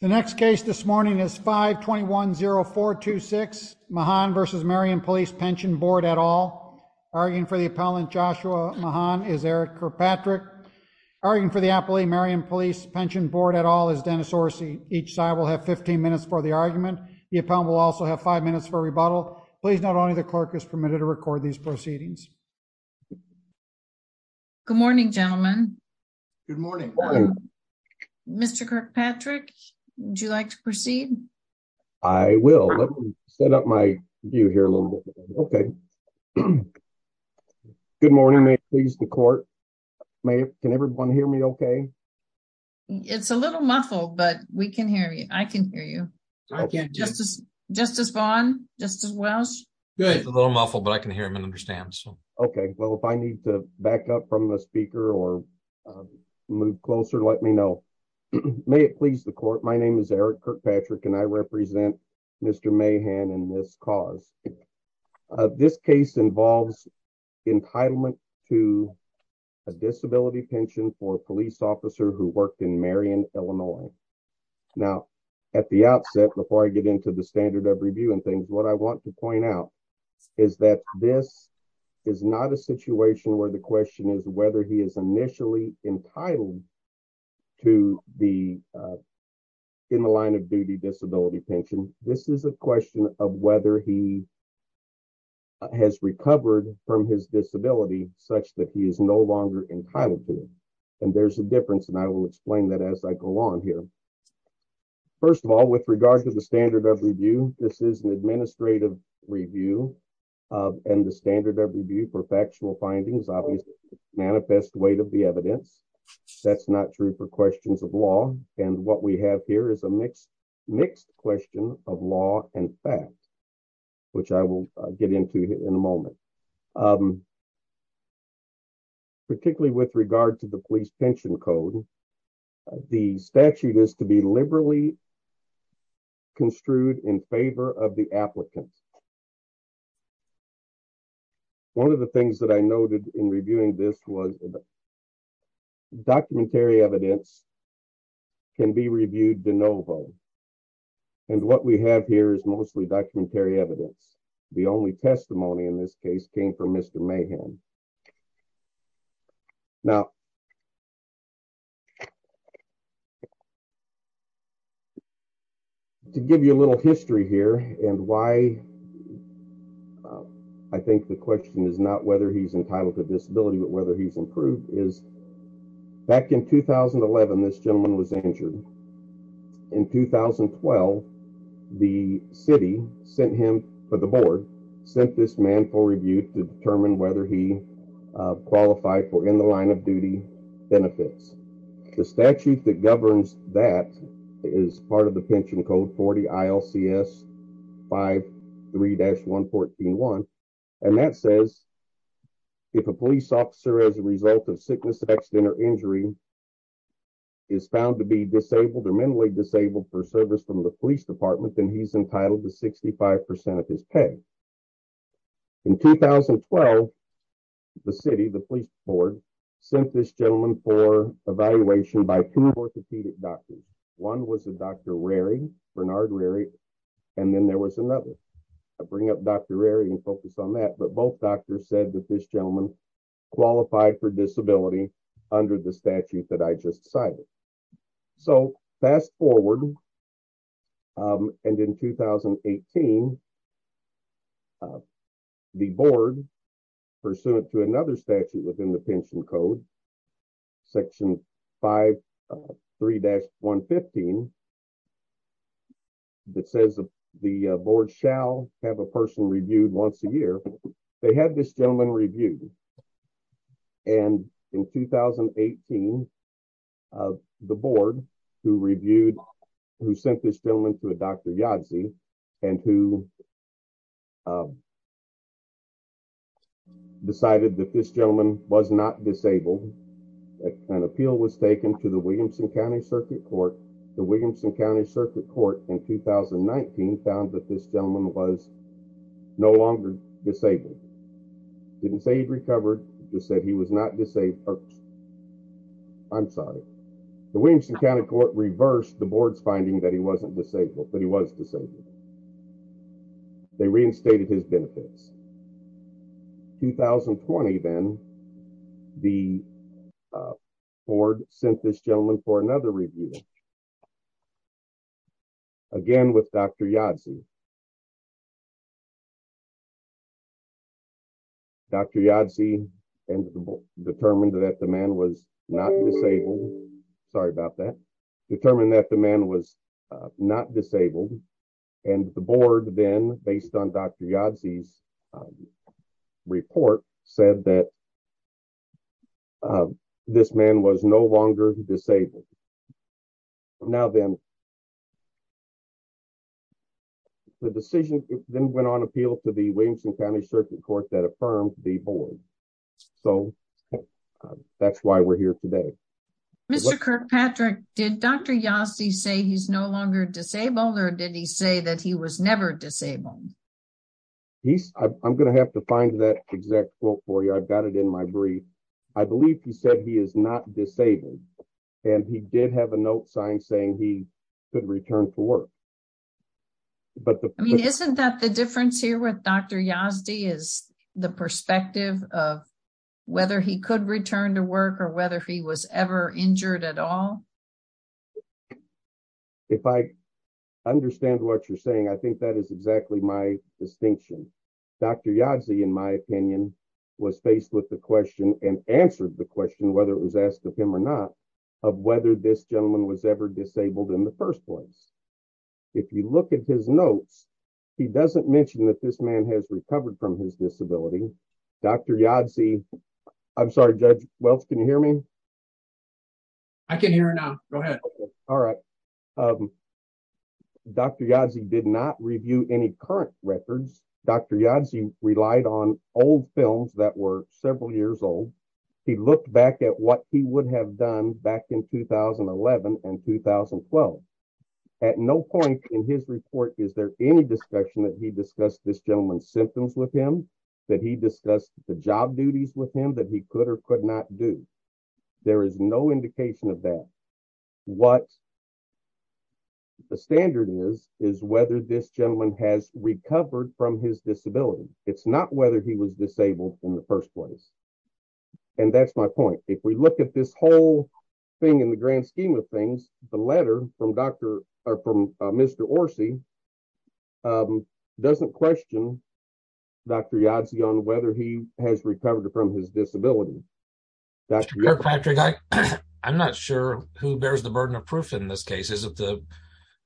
The next case this morning is 5-210-426 Mahan v. Marion Police Pension Board et al. Arguing for the appellant Joshua Mahan is Eric Kirkpatrick. Arguing for the appellee Marion Police Pension Board et al is Dennis Orsi. Each side will have 15 minutes for the argument. The appellant will also have five minutes for rebuttal. Please note only the clerk is permitted to record these proceedings. Good morning gentlemen. Good morning. Mr. Kirkpatrick. Would you like to proceed? I will. Let me set up my view here a little bit. Okay. Good morning. May it please the court. Can everyone hear me okay? It's a little muffled, but we can hear you. I can hear you. Justice Vaughn. Justice Wells. Good. A little muffled, but I can hear him and understand. Okay. Well, if I need to back up from the speaker or move closer, let me know. May it please the court. My name is Eric Kirkpatrick and I represent Mr. Mahan and this cause. This case involves entitlement to a disability pension for a police officer who worked in Marion, Illinois. Now, at the outset, before I get into the standard of reviewing things, what I want to point out is that this is not a situation where the question is whether he is initially entitled to be in the line of duty disability pension. This is a question of whether he has recovered from his disability such that he is no longer entitled to it. And there's a difference. And I will explain that as I go on here. First of all, with regard to the standard of review, this is an administrative review and the standard of review for factual findings, manifest weight of the evidence. That's not true for questions of law. And what we have here is a mixed, mixed question of law and facts, which I will get into in a moment. Particularly with regard to the police pension code, the statute is to be liberally construed in favor of the applicants. One of the things that I noted in reviewing this was documentary evidence can be reviewed de novo. And what we have here is mostly documentary evidence. The only testimony in this case came from Mr. Mayhem. Now, to give you a little history here and why I think the question is not whether he's entitled to disability, but whether he's improved is back in 2011, this gentleman was injured. In 2012, the city sent him for the board, sent this man for review to determine whether he qualified for in the line of duty benefits. The statute that governs that is part of the pension code 40 ILCS 53-114-1. And that says if a police officer as a result of sickness, injury is found to be disabled or mentally disabled for service from the police department, then he's entitled to 65% of his pay. In 2012, the city, the police board sent this gentleman for evaluation by two orthopedic doctors. One was a Dr. Rari, Bernard Rari. And then there was another bring up Dr. Rari and focus on that. But both doctors said that this gentleman qualified for disability under the statute that I just cited. So fast forward. And in 2018, the board pursuant to another statute within the pension code, section 53-115, that says the board shall have a person reviewed once a year. They had this gentleman reviewed. And in 2018, the board who reviewed, who sent this gentleman to a Dr. Yazzie, and who decided that this gentleman was not disabled. An appeal was taken to the Williamson County Circuit Court. The Williamson County Circuit Court in 2019 found that this gentleman was no longer disabled. Didn't say he'd recovered, just said he was not disabled. I'm sorry. The Williamson County Court reversed the board's finding that he wasn't disabled, but he was disabled. They reinstated his benefits. 2020 then the board sent this review again with Dr. Yazzie. Dr. Yazzie determined that the man was not disabled. Sorry about that. Determined that the man was not disabled. And the board then based on Dr. Yazzie's report said that this man was no longer disabled. Now then, the decision then went on appeal to the Williamson County Circuit Court that affirmed the board. So that's why we're here today. Mr. Kirkpatrick, did Dr. Yazzie say he's no longer disabled, or did he say that he was never disabled? I'm going to have to find that exact quote for you. I've got it in my brief. I believe he said he is not disabled. And he did have a note signed saying he could return to work. But isn't that the difference here with Dr. Yazzie is the perspective of whether he could return to work or whether he was ever injured at all? If I understand what you're saying, I think that is exactly my distinction. Dr. Yazzie, in my opinion, was faced with the question and answered the question, whether it was asked of him or not, of whether this gentleman was ever disabled in the first place. If you look at his notes, he doesn't mention that this man has recovered from his disability. Dr. Yazzie, I'm sorry, Judge Welch, can you hear me? I can hear now. Go ahead. All right. Dr. Yazzie did not review any current records. Dr. Yazzie relied on old films that were several years old. He looked back at what he would have done back in 2011 and 2012. At no point in his report is there any discussion that he discussed this gentleman's symptoms with him, that he discussed the job duties with him that he could or could not do. There is no indication of that. What the standard is, is whether this gentleman has recovered from his disability. It's not whether he was disabled in the first place. And that's my point. If we look at this whole thing in the grand he has recovered from his disability. I'm not sure who bears the burden of proof in this case. Is it the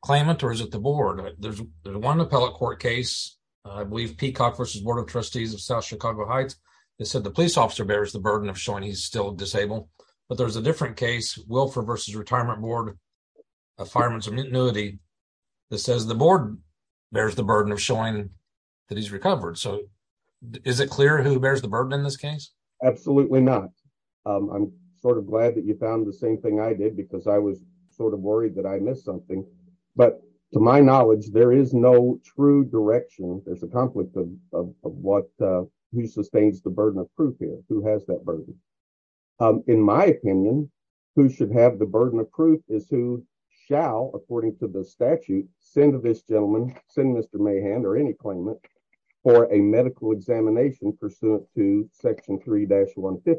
claimant or is it the board? There's one appellate court case, I believe Peacock v. Board of Trustees of South Chicago Heights, that said the police officer bears the burden of showing he's still disabled. But there's a different case, Wilford v. Retirement Board of Fireman's Immunity, that says the board bears the burden of showing that he's recovered. So is it clear who bears the burden in this case? Absolutely not. I'm sort of glad that you found the same thing I did, because I was sort of worried that I missed something. But to my knowledge, there is no true direction. There's a conflict of who sustains the burden of proof here, who has that burden. In my opinion, who should have the burden of proof is who shall, according to the statute, send this gentleman, send Mr. Mahan or any claimant for a medical examination pursuant to section 3-115.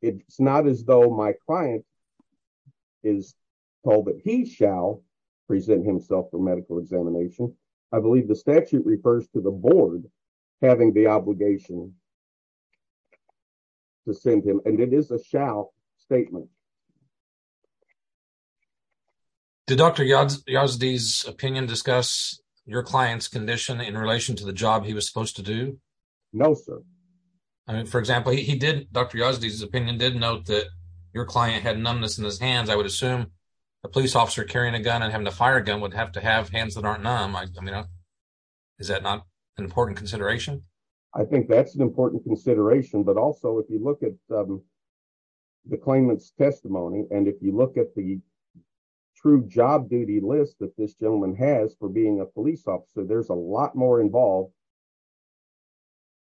It's not as though my client is told that he shall present himself for medical examination. I believe the statute refers to the board having the obligation to send him, and it is a shall statement. Did Dr. Yazdi's opinion discuss your client's condition in relation to the job he was supposed to do? No, sir. For example, Dr. Yazdi's opinion did note that your client had numbness in his hands. I would assume a police officer carrying a gun and a fire gun would have to have hands that aren't numb. Is that not an important consideration? I think that's an important consideration. But also, if you look at the claimant's testimony, and if you look at the true job duty list that this gentleman has for being a police officer, there's a lot more involved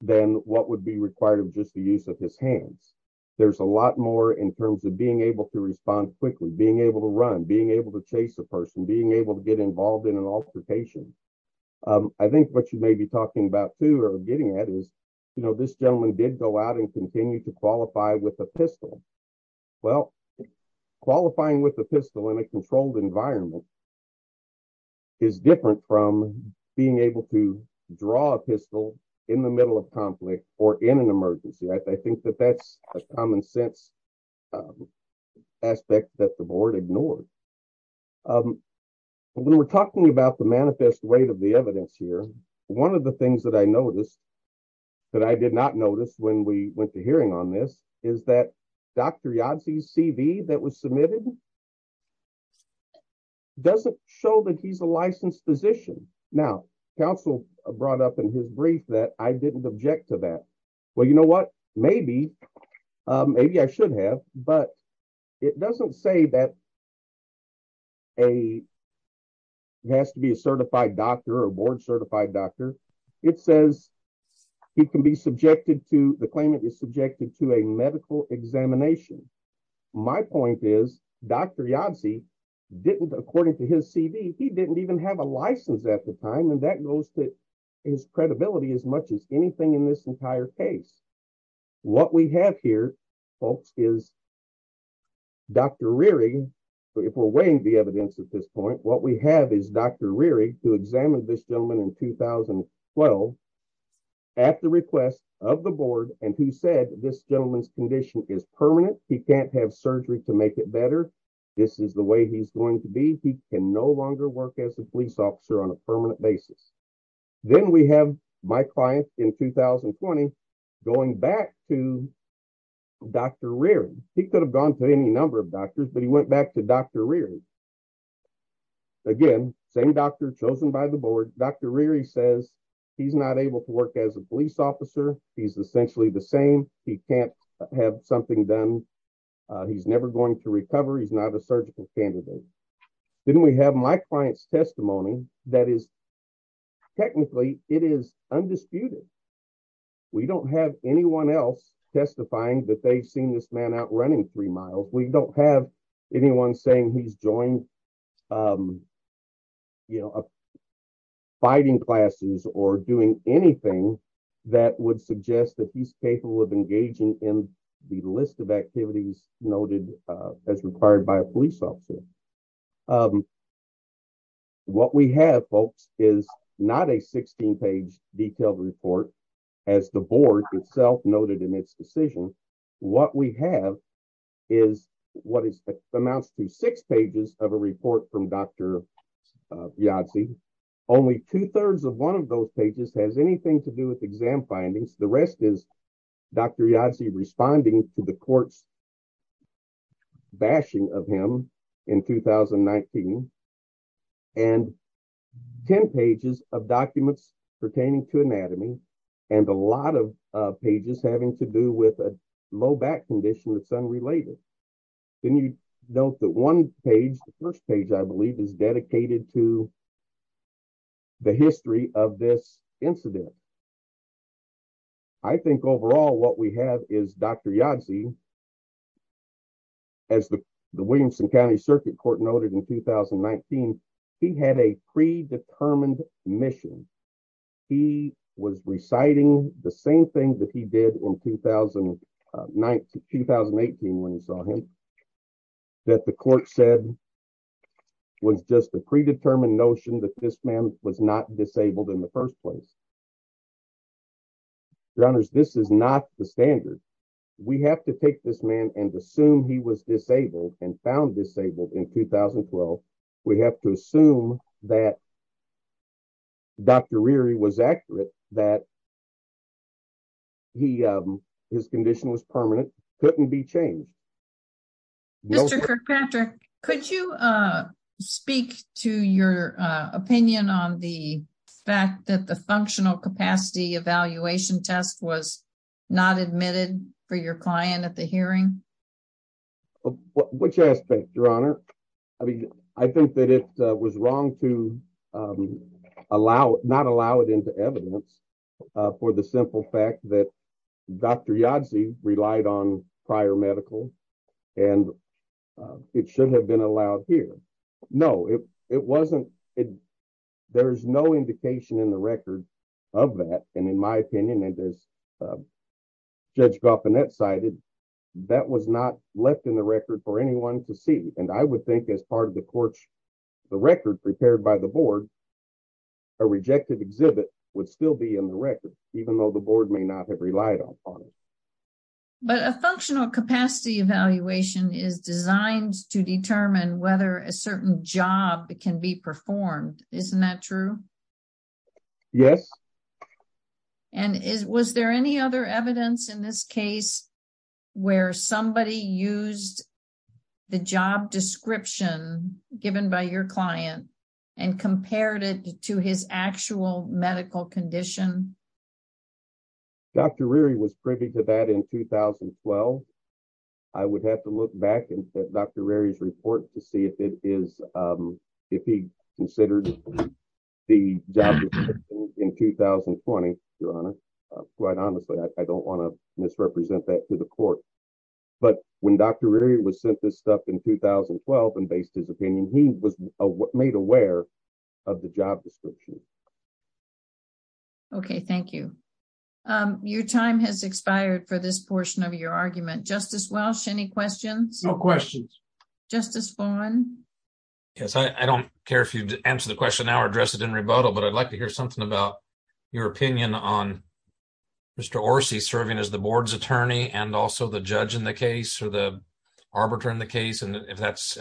than what would be required of just the use of his hands. There's a lot more in terms of being able to respond quickly, being able to run, being able to chase a person, being able to get involved in an altercation. I think what you may be talking about, too, or getting at is, you know, this gentleman did go out and continue to qualify with a pistol. Well, qualifying with a pistol in a controlled environment is different from being able to draw a pistol in the middle of conflict or in an emergency. I think that that's a common sense aspect that the board ignored. When we're talking about the manifest weight of the evidence here, one of the things that I noticed that I did not notice when we went to hearing on this is that Dr. Yadze's CV that was submitted doesn't show that he's a licensed physician. Now, counsel brought up in his brief that I didn't object to that. Well, you know what? Maybe. Maybe I should have, but it doesn't say that he has to be a certified doctor or board certified doctor. It says he can be subjected to, the claimant is subjected to a medical examination. My point is Dr. Yadze didn't, according to his CV, he didn't even have a license at the time. And that goes to his credibility as much as anything in this entire case. What we have here, folks, is Dr. Reary, if we're weighing the evidence at this point, what we have is Dr. Reary, who examined this gentleman in 2012 at the request of the board. And he said, this gentleman's condition is permanent. He can't have surgery to make it better. This is the way he's going to be. He can no longer work as a police officer on a permanent basis. Then we have my client in 2020 going back to Dr. Reary. He could have gone to any number of doctors, but he went back to Dr. Reary. Again, same doctor chosen by the board. Dr. Reary says he's not able to work as a police officer. He's essentially the same. He can't have something done. He's never going to recover. He's not a surgical candidate. Then we have my client's testimony that is technically it is undisputed. We don't have anyone else testifying that they've seen this man out running three miles. We don't have anyone saying he's joined fighting classes or doing anything that would suggest that he's capable of engaging in the list of activities noted as required by a police officer. What we have, folks, is not a 16-page detailed report as the board itself noted in its decision. What we have is what amounts to six pages of a report from Dr. Yazzie. Only two-thirds of one of those pages has anything to do with exam findings. The court's bashing of him in 2019 and 10 pages of documents pertaining to anatomy and a lot of pages having to do with a low back condition that's unrelated. You note that one page, the first page I believe, is dedicated to the history of this incident. I think overall what we have is Dr. Yazzie, as the Williamson County Circuit Court noted in 2019, he had a predetermined mission. He was reciting the same thing that he did in 2018 when you saw him, that the court said was just a predetermined notion that this man was not disabled in the first place. Your honors, this is not the standard. We have to take this man and assume he was disabled and found disabled in 2012. We have to assume that Dr. Reary was accurate, that his condition was permanent, couldn't be changed. Mr. Kirkpatrick, could you speak to your opinion on the fact that the functional capacity evaluation test was not admitted for your client at the hearing? Which aspect, your honor? I think that it was wrong to not allow it into evidence for the simple fact that Dr. Yazzie relied on prior medical and it should have been allowed here. No, it wasn't. There's no indication in the record of that and in my opinion, as Judge Goffinette cited, that was not left in the record for anyone to see. I would think as part of the record prepared by the board, a rejected exhibit would still be in the record, even though the board may not have relied upon it. But a functional capacity evaluation is designed to determine whether a certain job can be performed. Isn't that true? Yes. And was there any other evidence in this case where somebody used the job description given by your client and compared it to his actual medical condition? Dr. Reary was privy to that in 2012. I would have to look back at Dr. Reary's report to see if he considered the job description in 2020, your honor. Quite honestly, I don't want to misrepresent that to the court. But when Dr. Reary was sent this stuff in 2012 and based his Okay, thank you. Your time has expired for this portion of your argument. Justice Welch, any questions? No questions. Justice Vaughn? Yes, I don't care if you answer the question now or address it in rebuttal, but I'd like to hear something about your opinion on Mr. Orsi serving as the board's attorney and also the judge in the case or the arbiter in the case and if that's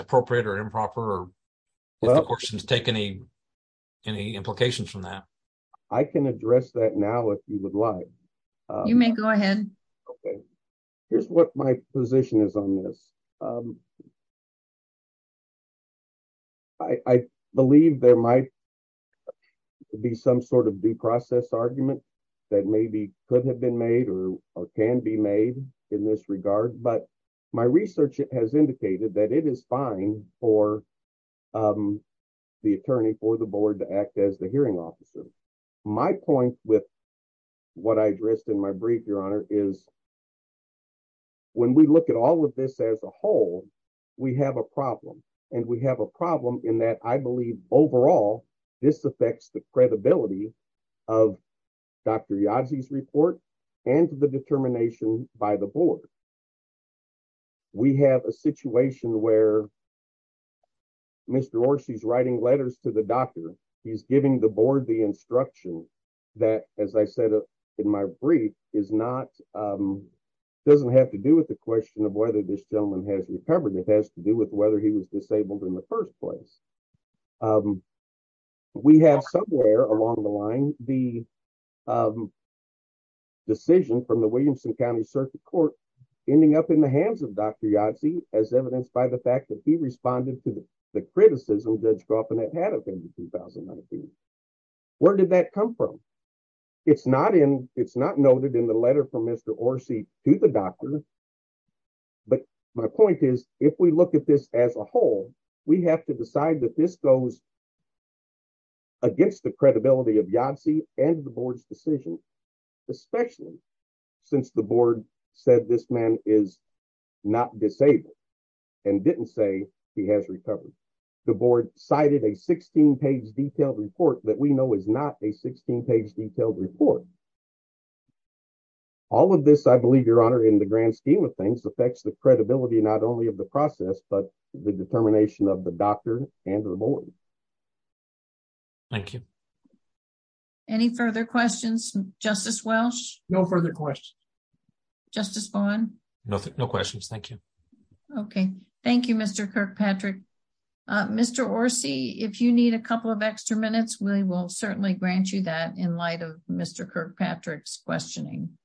any implications from that. I can address that now if you would like. You may go ahead. Okay. Here's what my position is on this. I believe there might be some sort of due process argument that maybe could have been made or can be made in this regard. But my research has indicated that it is fine for the attorney for the board to act as the hearing officer. My point with what I addressed in my brief, your honor, is when we look at all of this as a whole, we have a problem. And we have a problem in that I believe overall, this affects the credibility of Dr. Yazi's report, and the determination by the board. We have a situation where Mr. Orsi's writing letters to the doctor, he's giving the board the instruction that as I said, in my brief is not doesn't have to do with the question of whether this gentleman has recovered, it has to do with whether he was decision from the Williamson County Circuit Court, ending up in the hands of Dr. Yazi, as evidenced by the fact that he responded to the criticism that's go up in the head of him in 2019. Where did that come from? It's not in it's not noted in the letter from Mr. Orsi to the doctor. But my point is, if we look at this as a whole, we have to decide that this goes against the credibility of Yazi and the board's decision, especially since the board said this man is not disabled, and didn't say he has recovered. The board cited a 16 page detailed report that we know is not a 16 page detailed report. All of this, I believe, your honor, in the grand scheme of things affects the credibility not only of the process, but the determination of the doctor and the board. Thank you. Any further questions, Justice Welch? No further questions. Justice Vaughn? No, no questions. Thank you. Okay. Thank you, Mr. Kirkpatrick. Mr. Orsi, if you need a couple of extra minutes, we will certainly grant you that in light of Mr. Kirkpatrick's questioning.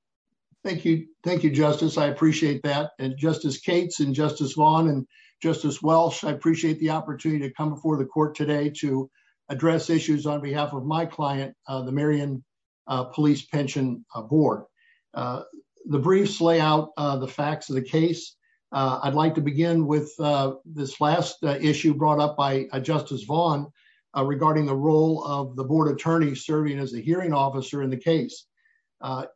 Thank you. Thank you, Justice. I appreciate that. And Justice Cates and Justice Vaughn and Justice Welch, I appreciate the opportunity to come before the court today to address issues on behalf of my client, the Marion Police Pension Board. The briefs lay out the facts of the case. I'd like to begin with this last issue brought up by Justice Vaughn regarding the role of the board attorney serving as a hearing officer in the case.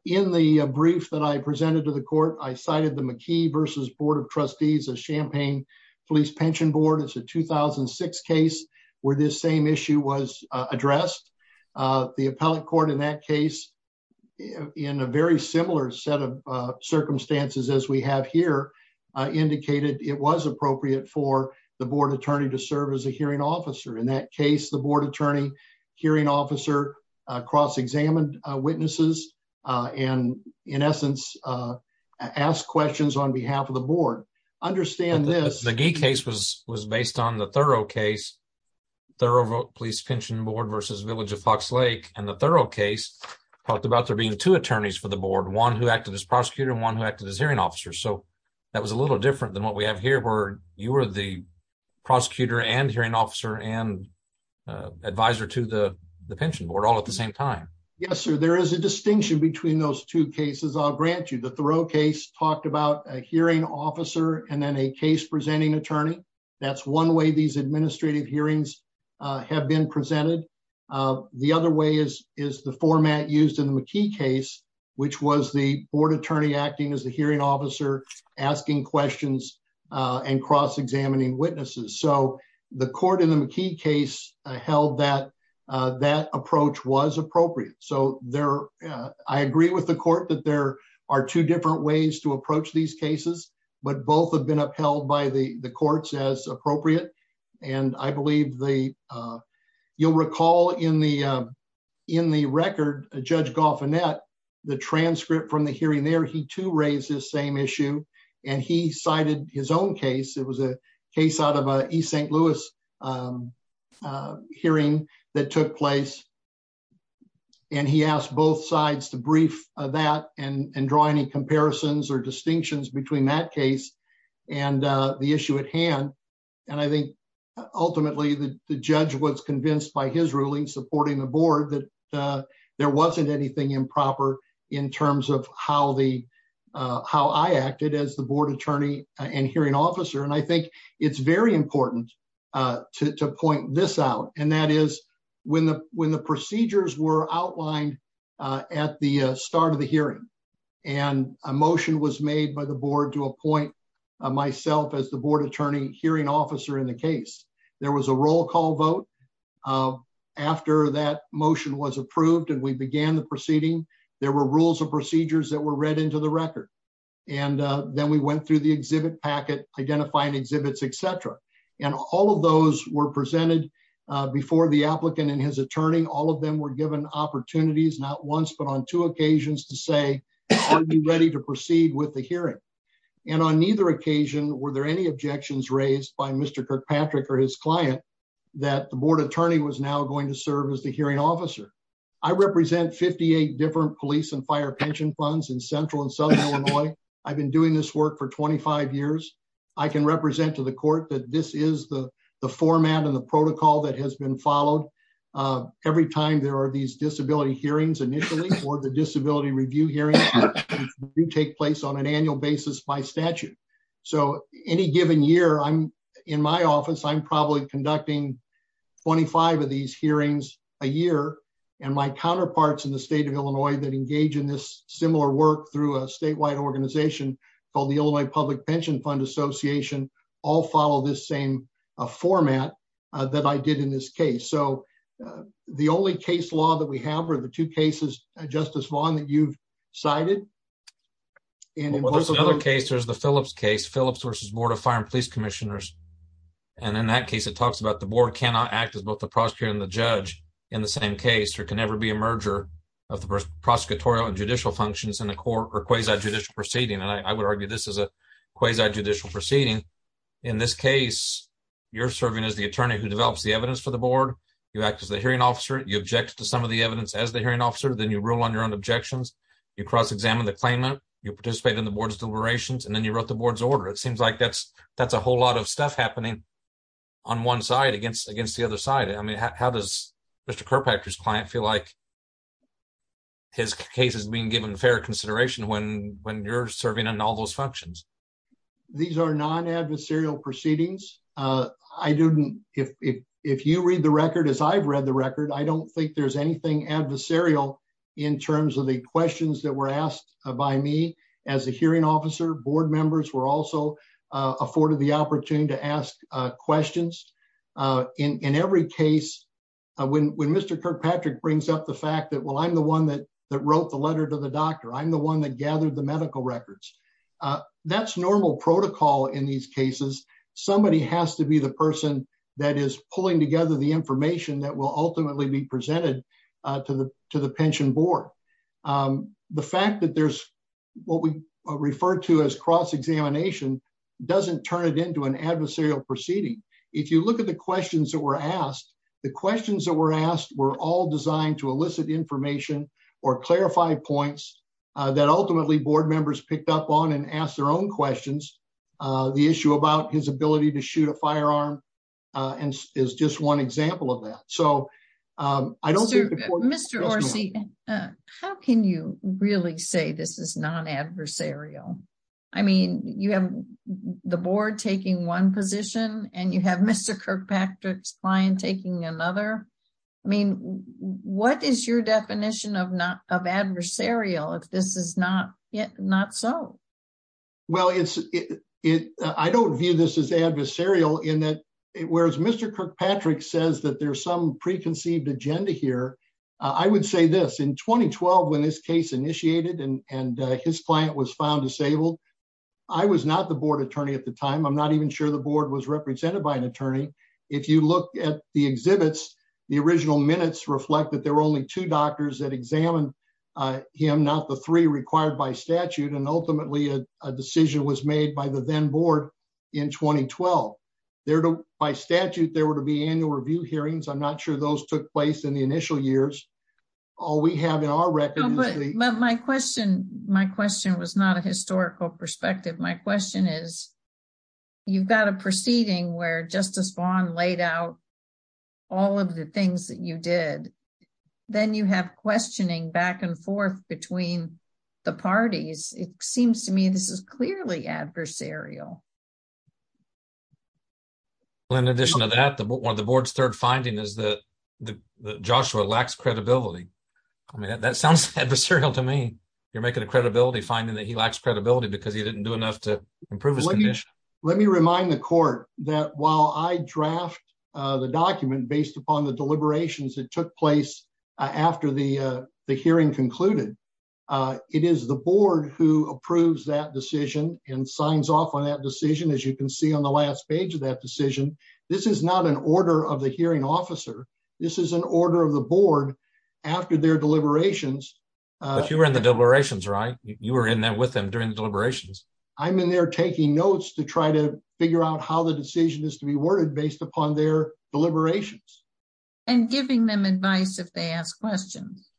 In the brief that I presented to the court, I cited the McKee versus Board of Trustees of Champaign Police Pension Board. It's a 2006 case where this same issue was addressed. The appellate court in that case, in a very similar set of circumstances as we have here, indicated it was appropriate for the board attorney to serve as a hearing officer, cross-examine witnesses, and in essence, ask questions on behalf of the board. Understand this... The Gee case was based on the Thurow case, Thurow Police Pension Board versus Village of Fox Lake. And the Thurow case talked about there being two attorneys for the board, one who acted as prosecutor and one who acted as hearing officer. So that was a little different than what we have here, where you were the prosecutor and hearing officer and advisor to the pension board all at the same time. Yes, sir. There is a distinction between those two cases, I'll grant you. The Thurow case talked about a hearing officer and then a case presenting attorney. That's one way these administrative hearings have been presented. The other way is the format used in the McKee case, which was the board attorney acting as the hearing officer asking questions and cross-examining witnesses. So the court in the McKee case held that approach was appropriate. So I agree with the court that there are two different ways to approach these cases, but both have been upheld by the courts as appropriate. And I believe the... You'll recall in the record, Judge Goffinette, the transcript from the hearing there, he too raised this same issue and he cited his own case. It was a case out of a East St. Louis hearing that took place. And he asked both sides to brief that and draw any comparisons or distinctions between that case and the issue at hand. And I think ultimately the judge was convinced by his ruling supporting the board that there wasn't anything improper in terms of how the I acted as the board attorney and hearing officer. And I think it's very important to point this out. And that is when the procedures were outlined at the start of the hearing and a motion was made by the board to appoint myself as the board attorney hearing officer in the case, there was a roll call vote. After that motion was approved and we began the proceeding, there were rules and procedures that were read into the record. And then we went through the exhibit packet, identifying exhibits, et cetera. And all of those were presented before the applicant and his attorney. All of them were given opportunities, not once, but on two occasions to say, are you ready to proceed with the hearing? And on neither occasion, were there any objections raised by Mr. Kirkpatrick or his client that the board attorney was now going to serve as hearing officer? I represent 58 different police and fire pension funds in central and southern Illinois. I've been doing this work for 25 years. I can represent to the court that this is the format and the protocol that has been followed. Every time there are these disability hearings initially or the disability review hearings do take place on an annual basis by statute. So any given year I'm in my office, I'm probably conducting 25 of these hearings a year. And my counterparts in the state of Illinois that engage in this similar work through a statewide organization called the Illinois public pension fund association all follow this same format that I did in this case. So the only case law that we have are the two cases, Justice Vaughn, that you've cited. And there's another case, there's the Phillips case, Phillips versus board of fire and police commissioners. And in that case, it talks about the board cannot act as both the prosecutor and the judge in the same case, or can never be a merger of the prosecutorial and judicial functions in the court or quasi judicial proceeding. And I would argue this is a quasi judicial proceeding. In this case, you're serving as the attorney who develops the evidence for the board. You act as the hearing officer, you object to some of the evidence as hearing officer, then you rule on your own objections. You cross examine the claimant, you participate in the board's deliberations, and then you wrote the board's order. It seems like that's a whole lot of stuff happening on one side against the other side. I mean, how does Mr. Kirkpatrick's client feel like his case is being given fair consideration when you're serving in all those functions? These are non-adversarial proceedings. If you read the record as I've read the record, I don't think there's anything adversarial in terms of the questions that were asked by me as a hearing officer. Board members were also afforded the opportunity to ask questions. In every case, when Mr. Kirkpatrick brings up the fact that, well, I'm the one that wrote the letter to the doctor, I'm the one that gathered the medical records. That's normal protocol in these cases. Somebody has to be the person that is pulling together the information that will ultimately be presented to the pension board. The fact that there's what we refer to as cross-examination doesn't turn it into an adversarial proceeding. If you look at the questions that were asked, the questions that were asked were all designed to elicit information or clarify points that ultimately board members picked up on and asked their own questions. The issue about his ability to shoot a firearm is just one example of that. Mr. Orsi, how can you really say this is non-adversarial? You have the board taking one position and you have Mr. Kirkpatrick's client taking another. What is your definition of adversarial if this is not so? Well, I don't view this as adversarial in that whereas Mr. Kirkpatrick says that there's some preconceived agenda here, I would say this. In 2012, when this case initiated and his client was found disabled, I was not the board attorney at the time. I'm not even sure the board was represented by an attorney. If you look at the exhibits, the original minutes reflect that there were only two doctors that examined him, not the three required by statute. Ultimately, a decision was made by the then board in 2012. By statute, there were to be annual review hearings. I'm not sure those took place in the initial years. All we have in our record is the- My question was not a historical perspective. My question is, you've got a proceeding where Justice Vaughn laid out all of the things that you did. Then you have questioning back and forth between the parties. It seems to me this is clearly adversarial. Well, in addition to that, one of the board's third findings is that Joshua lacks credibility. I mean, that sounds adversarial to me. You're making a credibility finding that he lacks credibility because he didn't do enough to improve his condition. Let me remind the court that while I draft the document based upon the deliberations that took place after the hearing concluded, it is the board who approves that decision and signs off on that decision. As you can see on the last page of that decision, this is not an order of the hearing officer. This is an order of the board after their deliberations. You were in the deliberations, right? You were in there with them during the deliberations. I'm in there taking notes to try to figure out how the decision is to be worded based upon their deliberations. And giving them advice if they ask questions.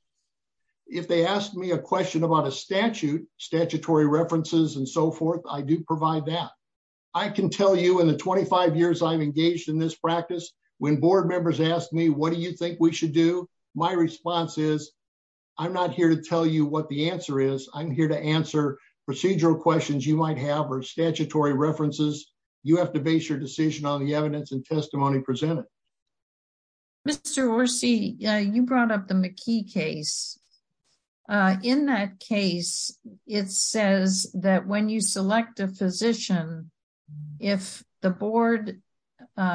If they ask me a question about a statute, statutory references and so forth, I do provide that. I can tell you in the 25 years I've engaged in this practice, when board members ask me, what do you think we should do? My response is I'm not here to tell you what the answer is. I'm here to answer procedural questions you might have or statutory references. You have to base your decision on the evidence and testimony presented. Mr. Orsi, you brought up the McKee case. In that case, it says that when you select a physician, if the board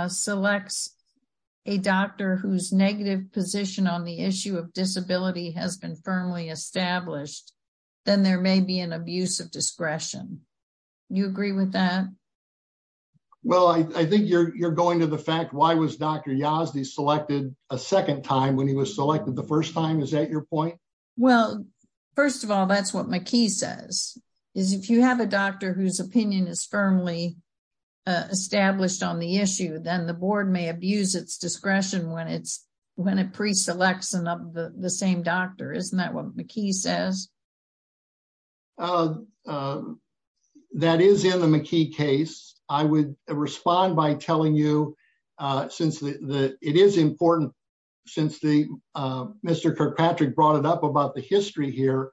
selects a doctor whose negative position on the issue of disability has been firmly established, then there may be an abuse of discretion. Do you agree with that? Well, I think you're going to the fact why was Dr. Yazdi selected a second time when he was selected the first time? Is that your point? Well, first of all, that's what McKee says. If you have a doctor whose opinion is firmly established on the issue, then the board may abuse its discretion when it preselects the same doctor. Isn't that what McKee says? That is in the McKee case. I would respond by telling you, since it is important, since Mr. Kirkpatrick brought it up about the history here,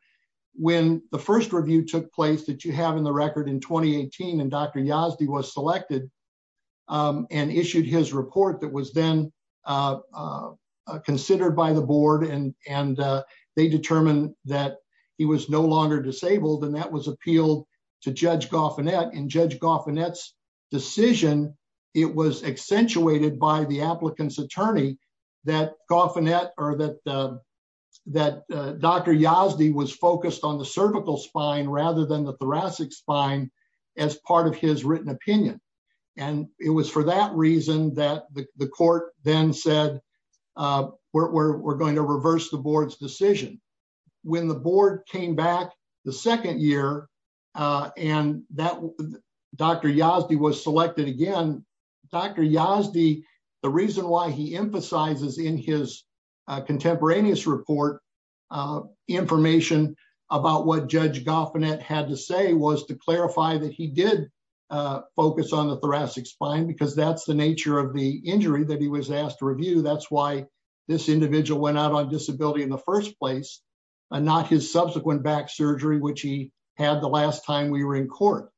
when the first review took place that you have in the record in 2018 and Dr. Yazdi was selected and issued his report that was then considered by the board and they determined that he was no longer disabled and that was appealed to Judge Goffinett. In Judge Goffinett's decision, it was accentuated by the applicant's attorney that Goffinett or that that Dr. Yazdi was focused on the cervical spine rather than the thoracic spine as part of his written opinion. And it was for that reason that the court then said we're going to reverse the board's decision. When the board came back the second year and that Dr. Yazdi was uh information about what Judge Goffinett had to say was to clarify that he did focus on the thoracic spine because that's the nature of the injury that he was asked to review. That's why this individual went out on disability in the first place and not his subsequent back surgery which he had the last time we were in court.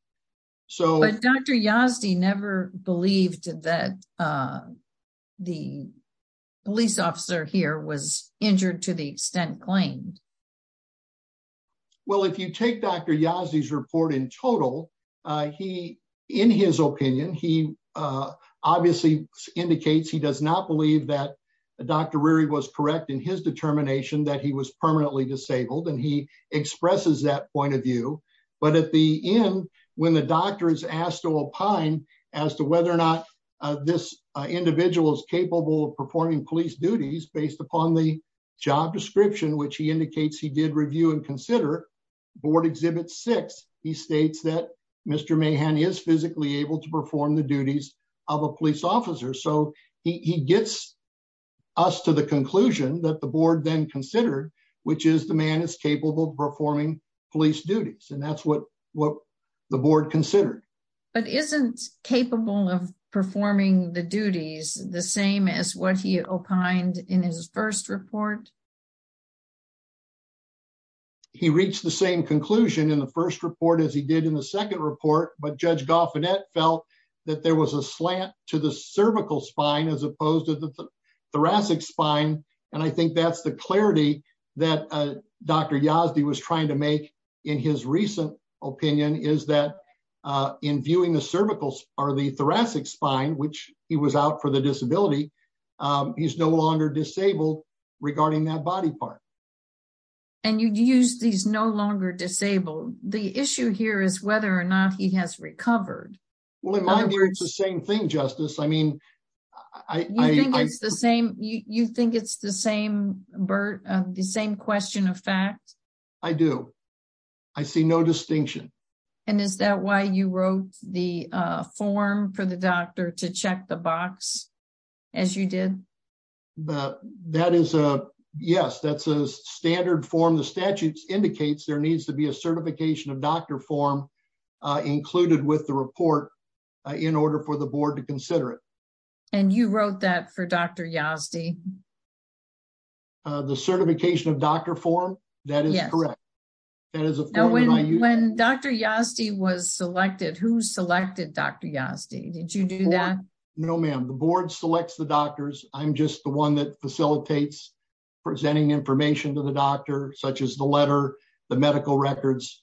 But Dr. Yazdi never believed that the police officer here was injured to the extent claimed. Well if you take Dr. Yazdi's report in total, he in his opinion he obviously indicates he does not believe that Dr. Reary was correct in his determination that he was permanently disabled and he expresses that point of view. But at the end when the doctor is asked to opine as to whether or not this individual is capable of performing the duties of a police officer based upon the job description which he indicates he did review and consider, board exhibit six, he states that Mr. Mahan is physically able to perform the duties of a police officer. So he gets us to the conclusion that the board then considered which is the man is capable of performing police duties and that's what the board considered. But isn't capable of performing the duties the same as what he opined in his first report? He reached the same conclusion in the first report as he did in the second report but Judge Goffinette felt that there was a slant to the cervical spine as opposed to the thoracic spine and I think that's the clarity that Dr. Yazdi was trying to make in his recent opinion is that in viewing the cervicals or the thoracic spine which he was out for the disability, he's no longer disabled regarding that body part. And you use these no longer disabled. The issue here is whether or not he has recovered. Well in my view it's the same thing Justice. I mean I think it's the same you think it's the same Bert the same question of fact. I do. I see no distinction. And is that why you wrote the form for the doctor to check the box as you did? That is a yes that's a standard form. The statute indicates there needs to be a certification of doctor form included with the report in order for the board to consider it. And you wrote that for Dr. Yazdi? The certification of doctor form that is correct. When Dr. Yazdi was selected who selected Dr. Yazdi? Did you do that? No ma'am the board selects the doctors. I'm just the one that facilitates presenting information to the doctor such as the letter the medical records.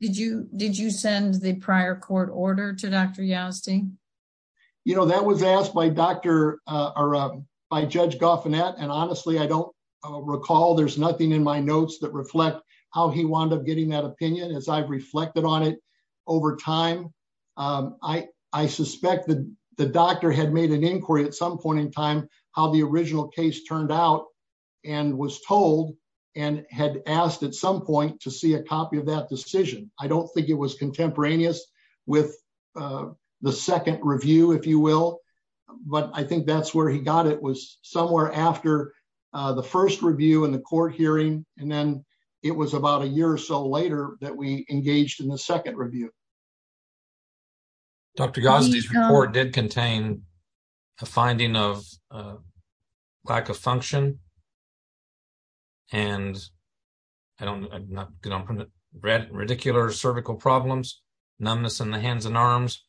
Did you did you send the prior court order to Dr. Yazdi? You know that was asked by Dr. or by Judge Goffinette and honestly I don't recall there's nothing in my notes that reflect how he wound up getting that opinion as I've reflected on it over time. I suspect that the doctor had made an inquiry at some point in time how the original case turned out and was told and had asked at some point to see a copy of I don't think it was contemporaneous with the second review if you will but I think that's where he got it was somewhere after the first review in the court hearing and then it was about a year or so later that we engaged in the second review. Dr. Yazdi's report did contain a finding of lack of function and I don't I'm not going to read ridiculous cervical problems numbness in the hands and arms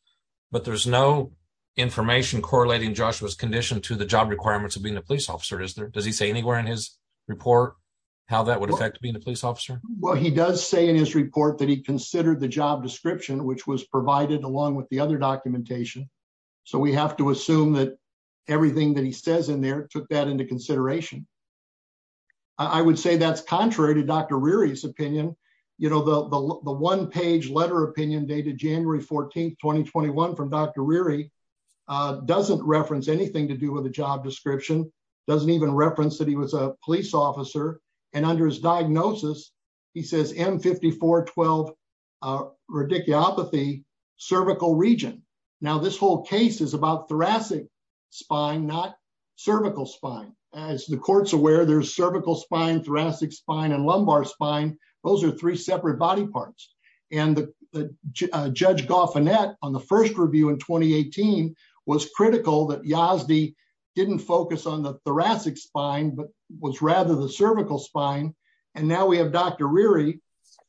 but there's no information correlating Joshua's condition to the job requirements of being a police officer is there does he say anywhere in his report how that would affect being a police officer? Well he does say in his report that he considered the job description which was provided along with the other documentation so we have to assume that everything that he says in there took that into consideration. I would say that's contrary to Dr. Reary's opinion you know the the one-page letter opinion dated January 14, 2021 from Dr. Reary doesn't reference anything to do with the job description doesn't even reference that he was police officer and under his diagnosis he says m54 12 radicopathy cervical region. Now this whole case is about thoracic spine not cervical spine as the court's aware there's cervical spine thoracic spine and lumbar spine those are three separate body parts and the Judge Goffinette on the first review in 2018 was critical that Yazdi didn't focus on the thoracic spine but was rather the cervical spine and now we have Dr. Reary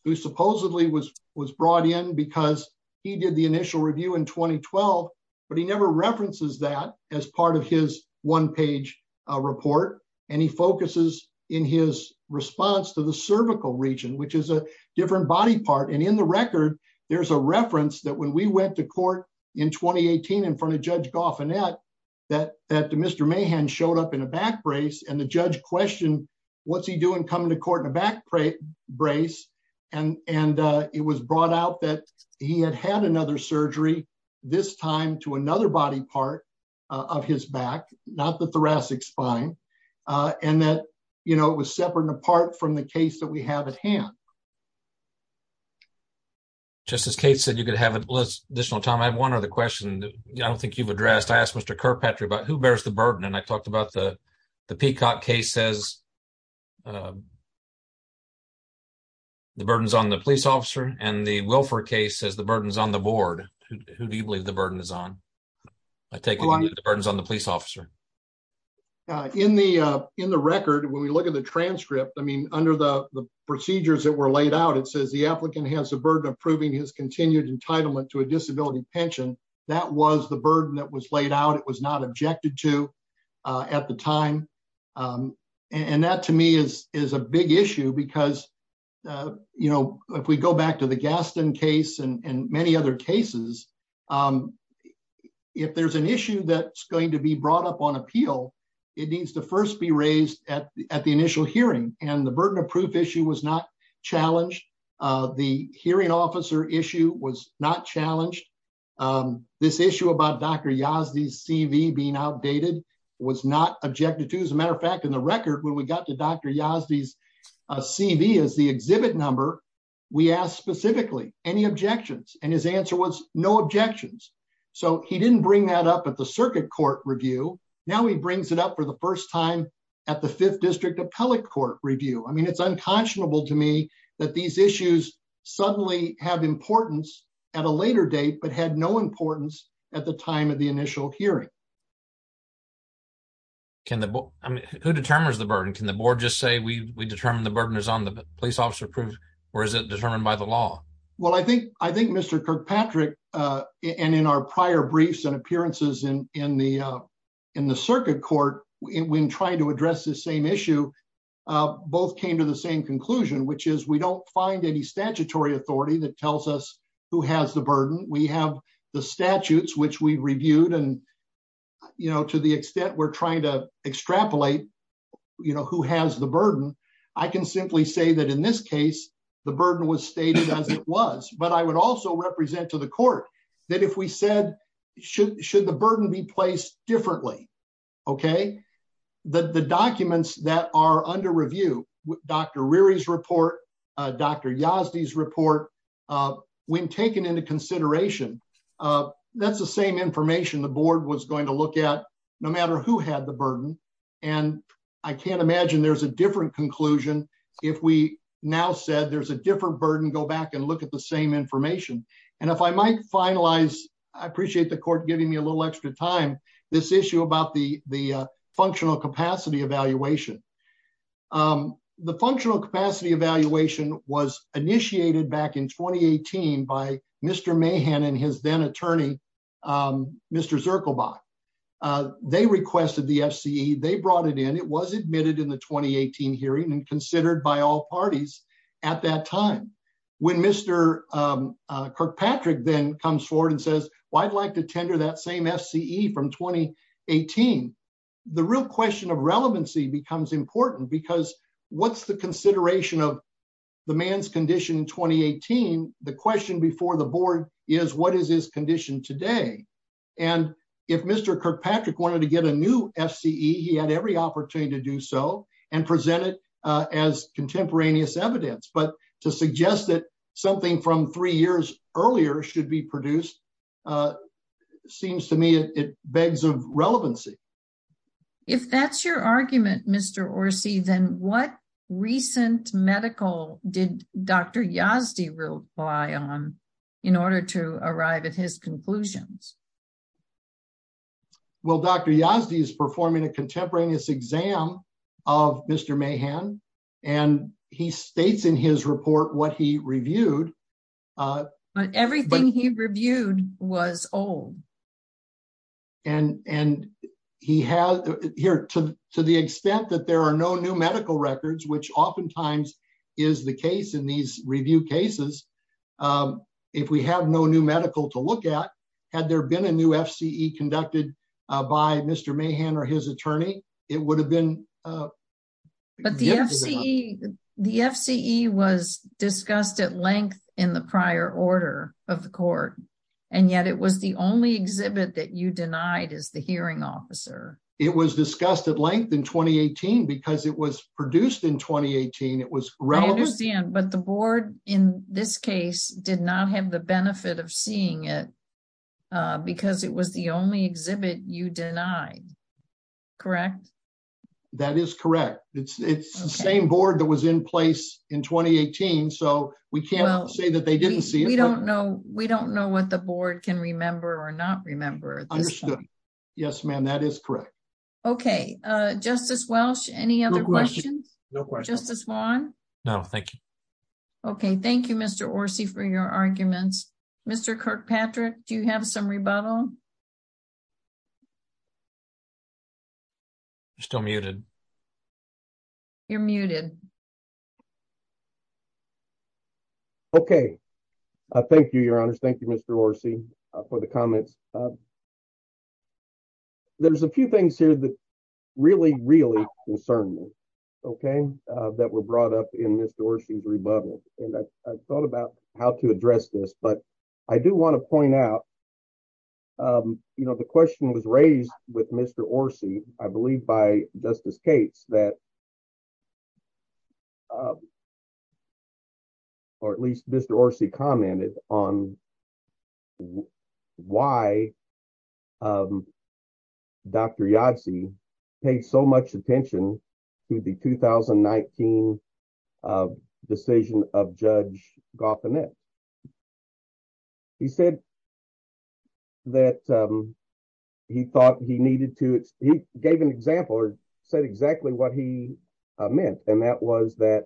who supposedly was was brought in because he did the initial review in 2012 but he never references that as part of his one-page report and he focuses in his response to the cervical region which is a different body part and in the in 2018 in front of Judge Goffinette that that Mr. Mahan showed up in a back brace and the Judge questioned what's he doing coming to court in a back brace and and it was brought out that he had had another surgery this time to another body part of his back not the thoracic spine and that you know it was separate and apart from the case that we have at hand. Just as Kate said you could have an additional time I have one other question I don't think you've addressed I asked Mr. Kirkpatrick about who bears the burden and I talked about the the Peacock case says the burden's on the police officer and the Wilford case says the burden's on the board who do you believe the burden is on? I take it the burden's on the police officer. In the in the record when we look at the transcript I mean under the the procedures that laid out it says the applicant has a burden approving his continued entitlement to a disability pension that was the burden that was laid out it was not objected to at the time and that to me is is a big issue because you know if we go back to the Gaston case and and many other cases if there's an issue that's going to be brought up on appeal it needs to first be raised at the initial hearing and the burden of proof issue was not challenged the hearing officer issue was not challenged this issue about Dr. Yazdi's CV being outdated was not objected to as a matter of fact in the record when we got to Dr. Yazdi's CV as the exhibit number we asked specifically any objections and his answer was no objections so he didn't bring that up at the fifth district appellate court review I mean it's unconscionable to me that these issues suddenly have importance at a later date but had no importance at the time of the initial hearing. Can the board I mean who determines the burden can the board just say we we determine the burden is on the police officer proof or is it determined by the law? Well I think I think Mr. Kirkpatrick uh and in our prior briefs and appearances in in the uh in the circuit court when trying to issue uh both came to the same conclusion which is we don't find any statutory authority that tells us who has the burden we have the statutes which we reviewed and you know to the extent we're trying to extrapolate you know who has the burden I can simply say that in this case the burden was stated as it was but I would also represent to the court that if we said should should the burden be differently okay the the documents that are under review Dr. Reary's report uh Dr. Yazdi's report uh when taken into consideration uh that's the same information the board was going to look at no matter who had the burden and I can't imagine there's a different conclusion if we now said there's a different burden go back and look at the same information and if I might finalize I appreciate the court giving me a little extra time this issue about the the functional capacity evaluation um the functional capacity evaluation was initiated back in 2018 by Mr. Mahan and his then attorney um Mr. Zirkelbach uh they requested the FCE they brought it in it was admitted in the 2018 hearing and considered by all parties at that time when Mr. Kirkpatrick then comes forward and well I'd like to tender that same FCE from 2018 the real question of relevancy becomes important because what's the consideration of the man's condition in 2018 the question before the board is what is his condition today and if Mr. Kirkpatrick wanted to get a new FCE he had every opportunity to do so and present it uh as contemporaneous evidence but to suggest that something from three years earlier should be produced uh seems to me it begs of relevancy if that's your argument Mr. Orsi then what recent medical did Dr. Yazdi rely on in order to arrive at his conclusions well Dr. Yazdi is performing a contemporaneous exam of Mr. Mahan and he states in his report what he reviewed uh but everything he reviewed was old and and he has here to to the extent that there are no new medical records which oftentimes is the case in these review cases um if we have no new medical to look at had there been a new FCE conducted uh by Mr. Mahan or his attorney it would have been uh but the FCE the FCE was discussed at length in the prior order of the court and yet it was the only exhibit that you denied as the hearing officer it was discussed at length in 2018 because it was produced in 2018 it was relevant but the board in this case did not have the benefit of seeing it uh because it was the only exhibit you denied correct that is correct it's it's the same board that was in place in 2018 so we can't say that they didn't see we don't know we don't know what the board can remember or not remember understood yes ma'am that is correct okay uh justice welsh any other questions no questions justice wan no thank you okay thank you Mr. Orsi for your arguments Mr. Kirkpatrick do you have some rebuttal you're still muted you're muted okay uh thank you your honors thank you Mr. Orsi uh for the comments there's a few things here that really really concern me okay uh that were brought up in Mr. and I've thought about how to address this but I do want to point out you know the question was raised with Mr. Orsi I believe by Justice Cates that or at least Mr. Orsi commented on why um Dr. Yadze paid so much attention to the 2019 decision of Judge Goffinette he said that um he thought he needed to he gave an example or said exactly what he meant and that was that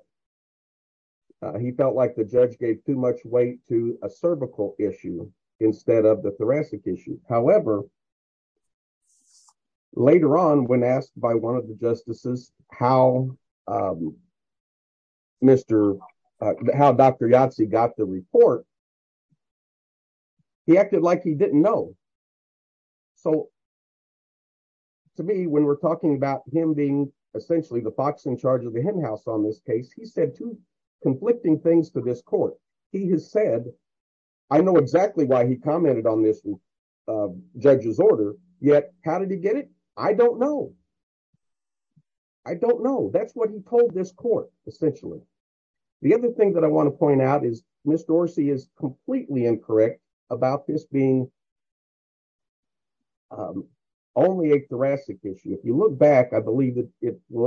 he felt like the judge gave too much weight to a cervical issue instead of the thoracic issue however later on when asked by one of the justices how um Mr. how Dr. Yadze got the report he acted like he didn't know so to me when we're talking about him being essentially the fox in charge of the hen house on this case he said two conflicting things to he has said I know exactly why he commented on this judge's order yet how did he get it I don't know I don't know that's what he told this court essentially the other thing that I want to point out is Mr. Orsi is completely incorrect about this being um only a thoracic issue if you look back I will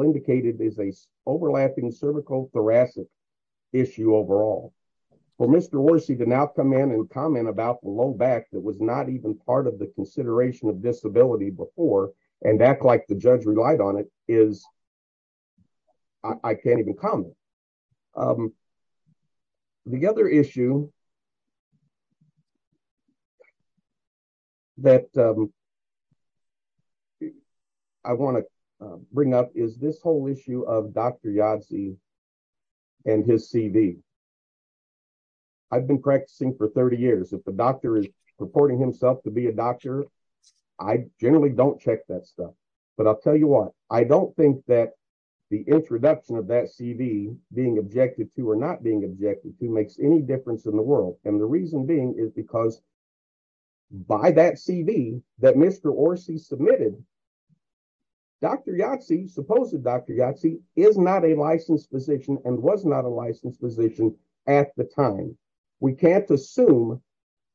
indicate it is a overlapping cervical thoracic issue overall for Mr. Orsi to now come in and comment about the low back that was not even part of the consideration of disability before and act like the judge relied on it is I can't even comment um the other issue that um I want to bring up is this whole issue of Dr. Yadze and his CV I've been practicing for 30 years if the doctor is purporting himself to be a doctor I generally don't check that stuff but I'll tell you what I don't think that the introduction of that CV being objected to or not being objected to makes any difference in the world and the reason being is because by that CV that Mr. Orsi submitted Dr. Yadze supposedly Dr. Yadze is not a licensed physician and was not a licensed physician at the time we can't assume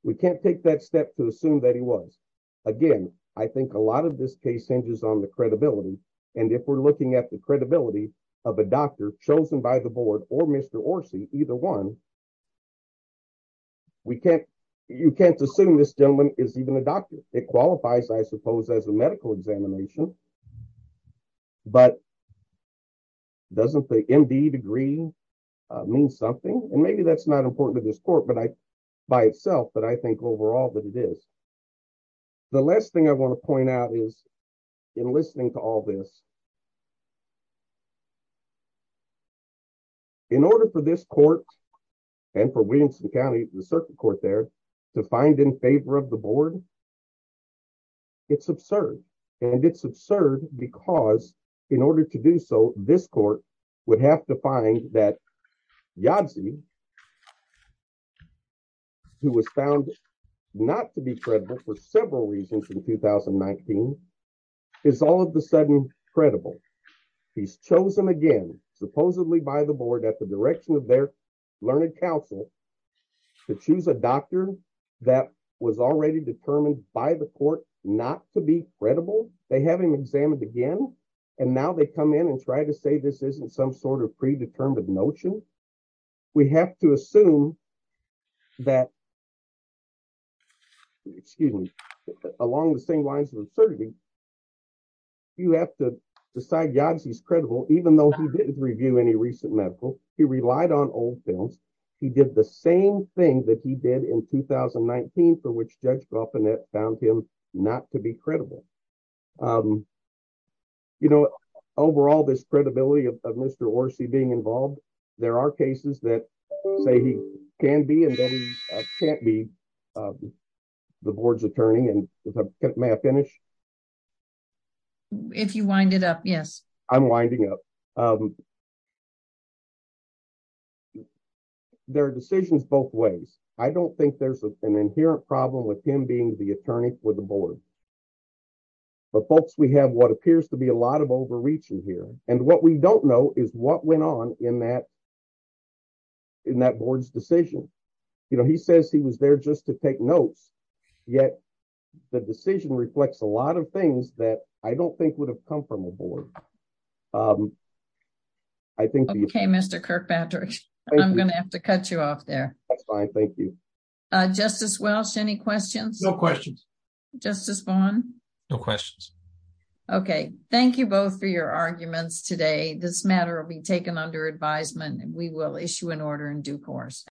we can't take that step to assume that he was again I think a lot of this case hinges on the credibility and if we're looking at the credibility of a doctor chosen by the board or Mr. Orsi either one we can't you can't assume this gentleman is even a doctor it qualifies I suppose as a medical examination but doesn't the MD degree mean something and maybe that's not important to this court but I by itself but I think overall that it is the last thing I want to point out is in listening to all this in order for this court and for Williamson County the circuit court there to find in favor of the board it's absurd and it's absurd because in order to do so this court would have to find that Yadze who was found not to be credible for several reasons in 2019 is all of a sudden credible he's chosen again supposedly by the board at the direction of their learned counsel to choose a doctor that was already determined by the court not to be credible they have him examined again and now they come in and try to say this isn't some sort of predetermined notion we have to assume that excuse me along the same lines of absurdity you have to decide Yadze's credible even though he didn't review any recent medical he relied on old films he did the same thing that he did in 2019 for which Judge Galpinette found him not to be credible you know overall this credibility of Mr. Orsi being involved there are cases that say he can be and can't be the board's attorney and may I finish if you wind it up yes I'm winding up there are decisions both ways I don't think there's an inherent problem with him being the attorney for the board but folks we have what appears to be a lot of overreach in here and what we don't know is what went on in that in that board's decision you know he says he was there just to take notes yet the decision reflects a lot of things that I don't think would have come from a board um I think okay Mr. Kirkpatrick I'm gonna have to cut you off there that's fine thank you uh Justice Welsh any questions no questions Justice Vaughn no questions okay thank you both for your arguments today this matter will be taken under advisement and we will issue an order in due course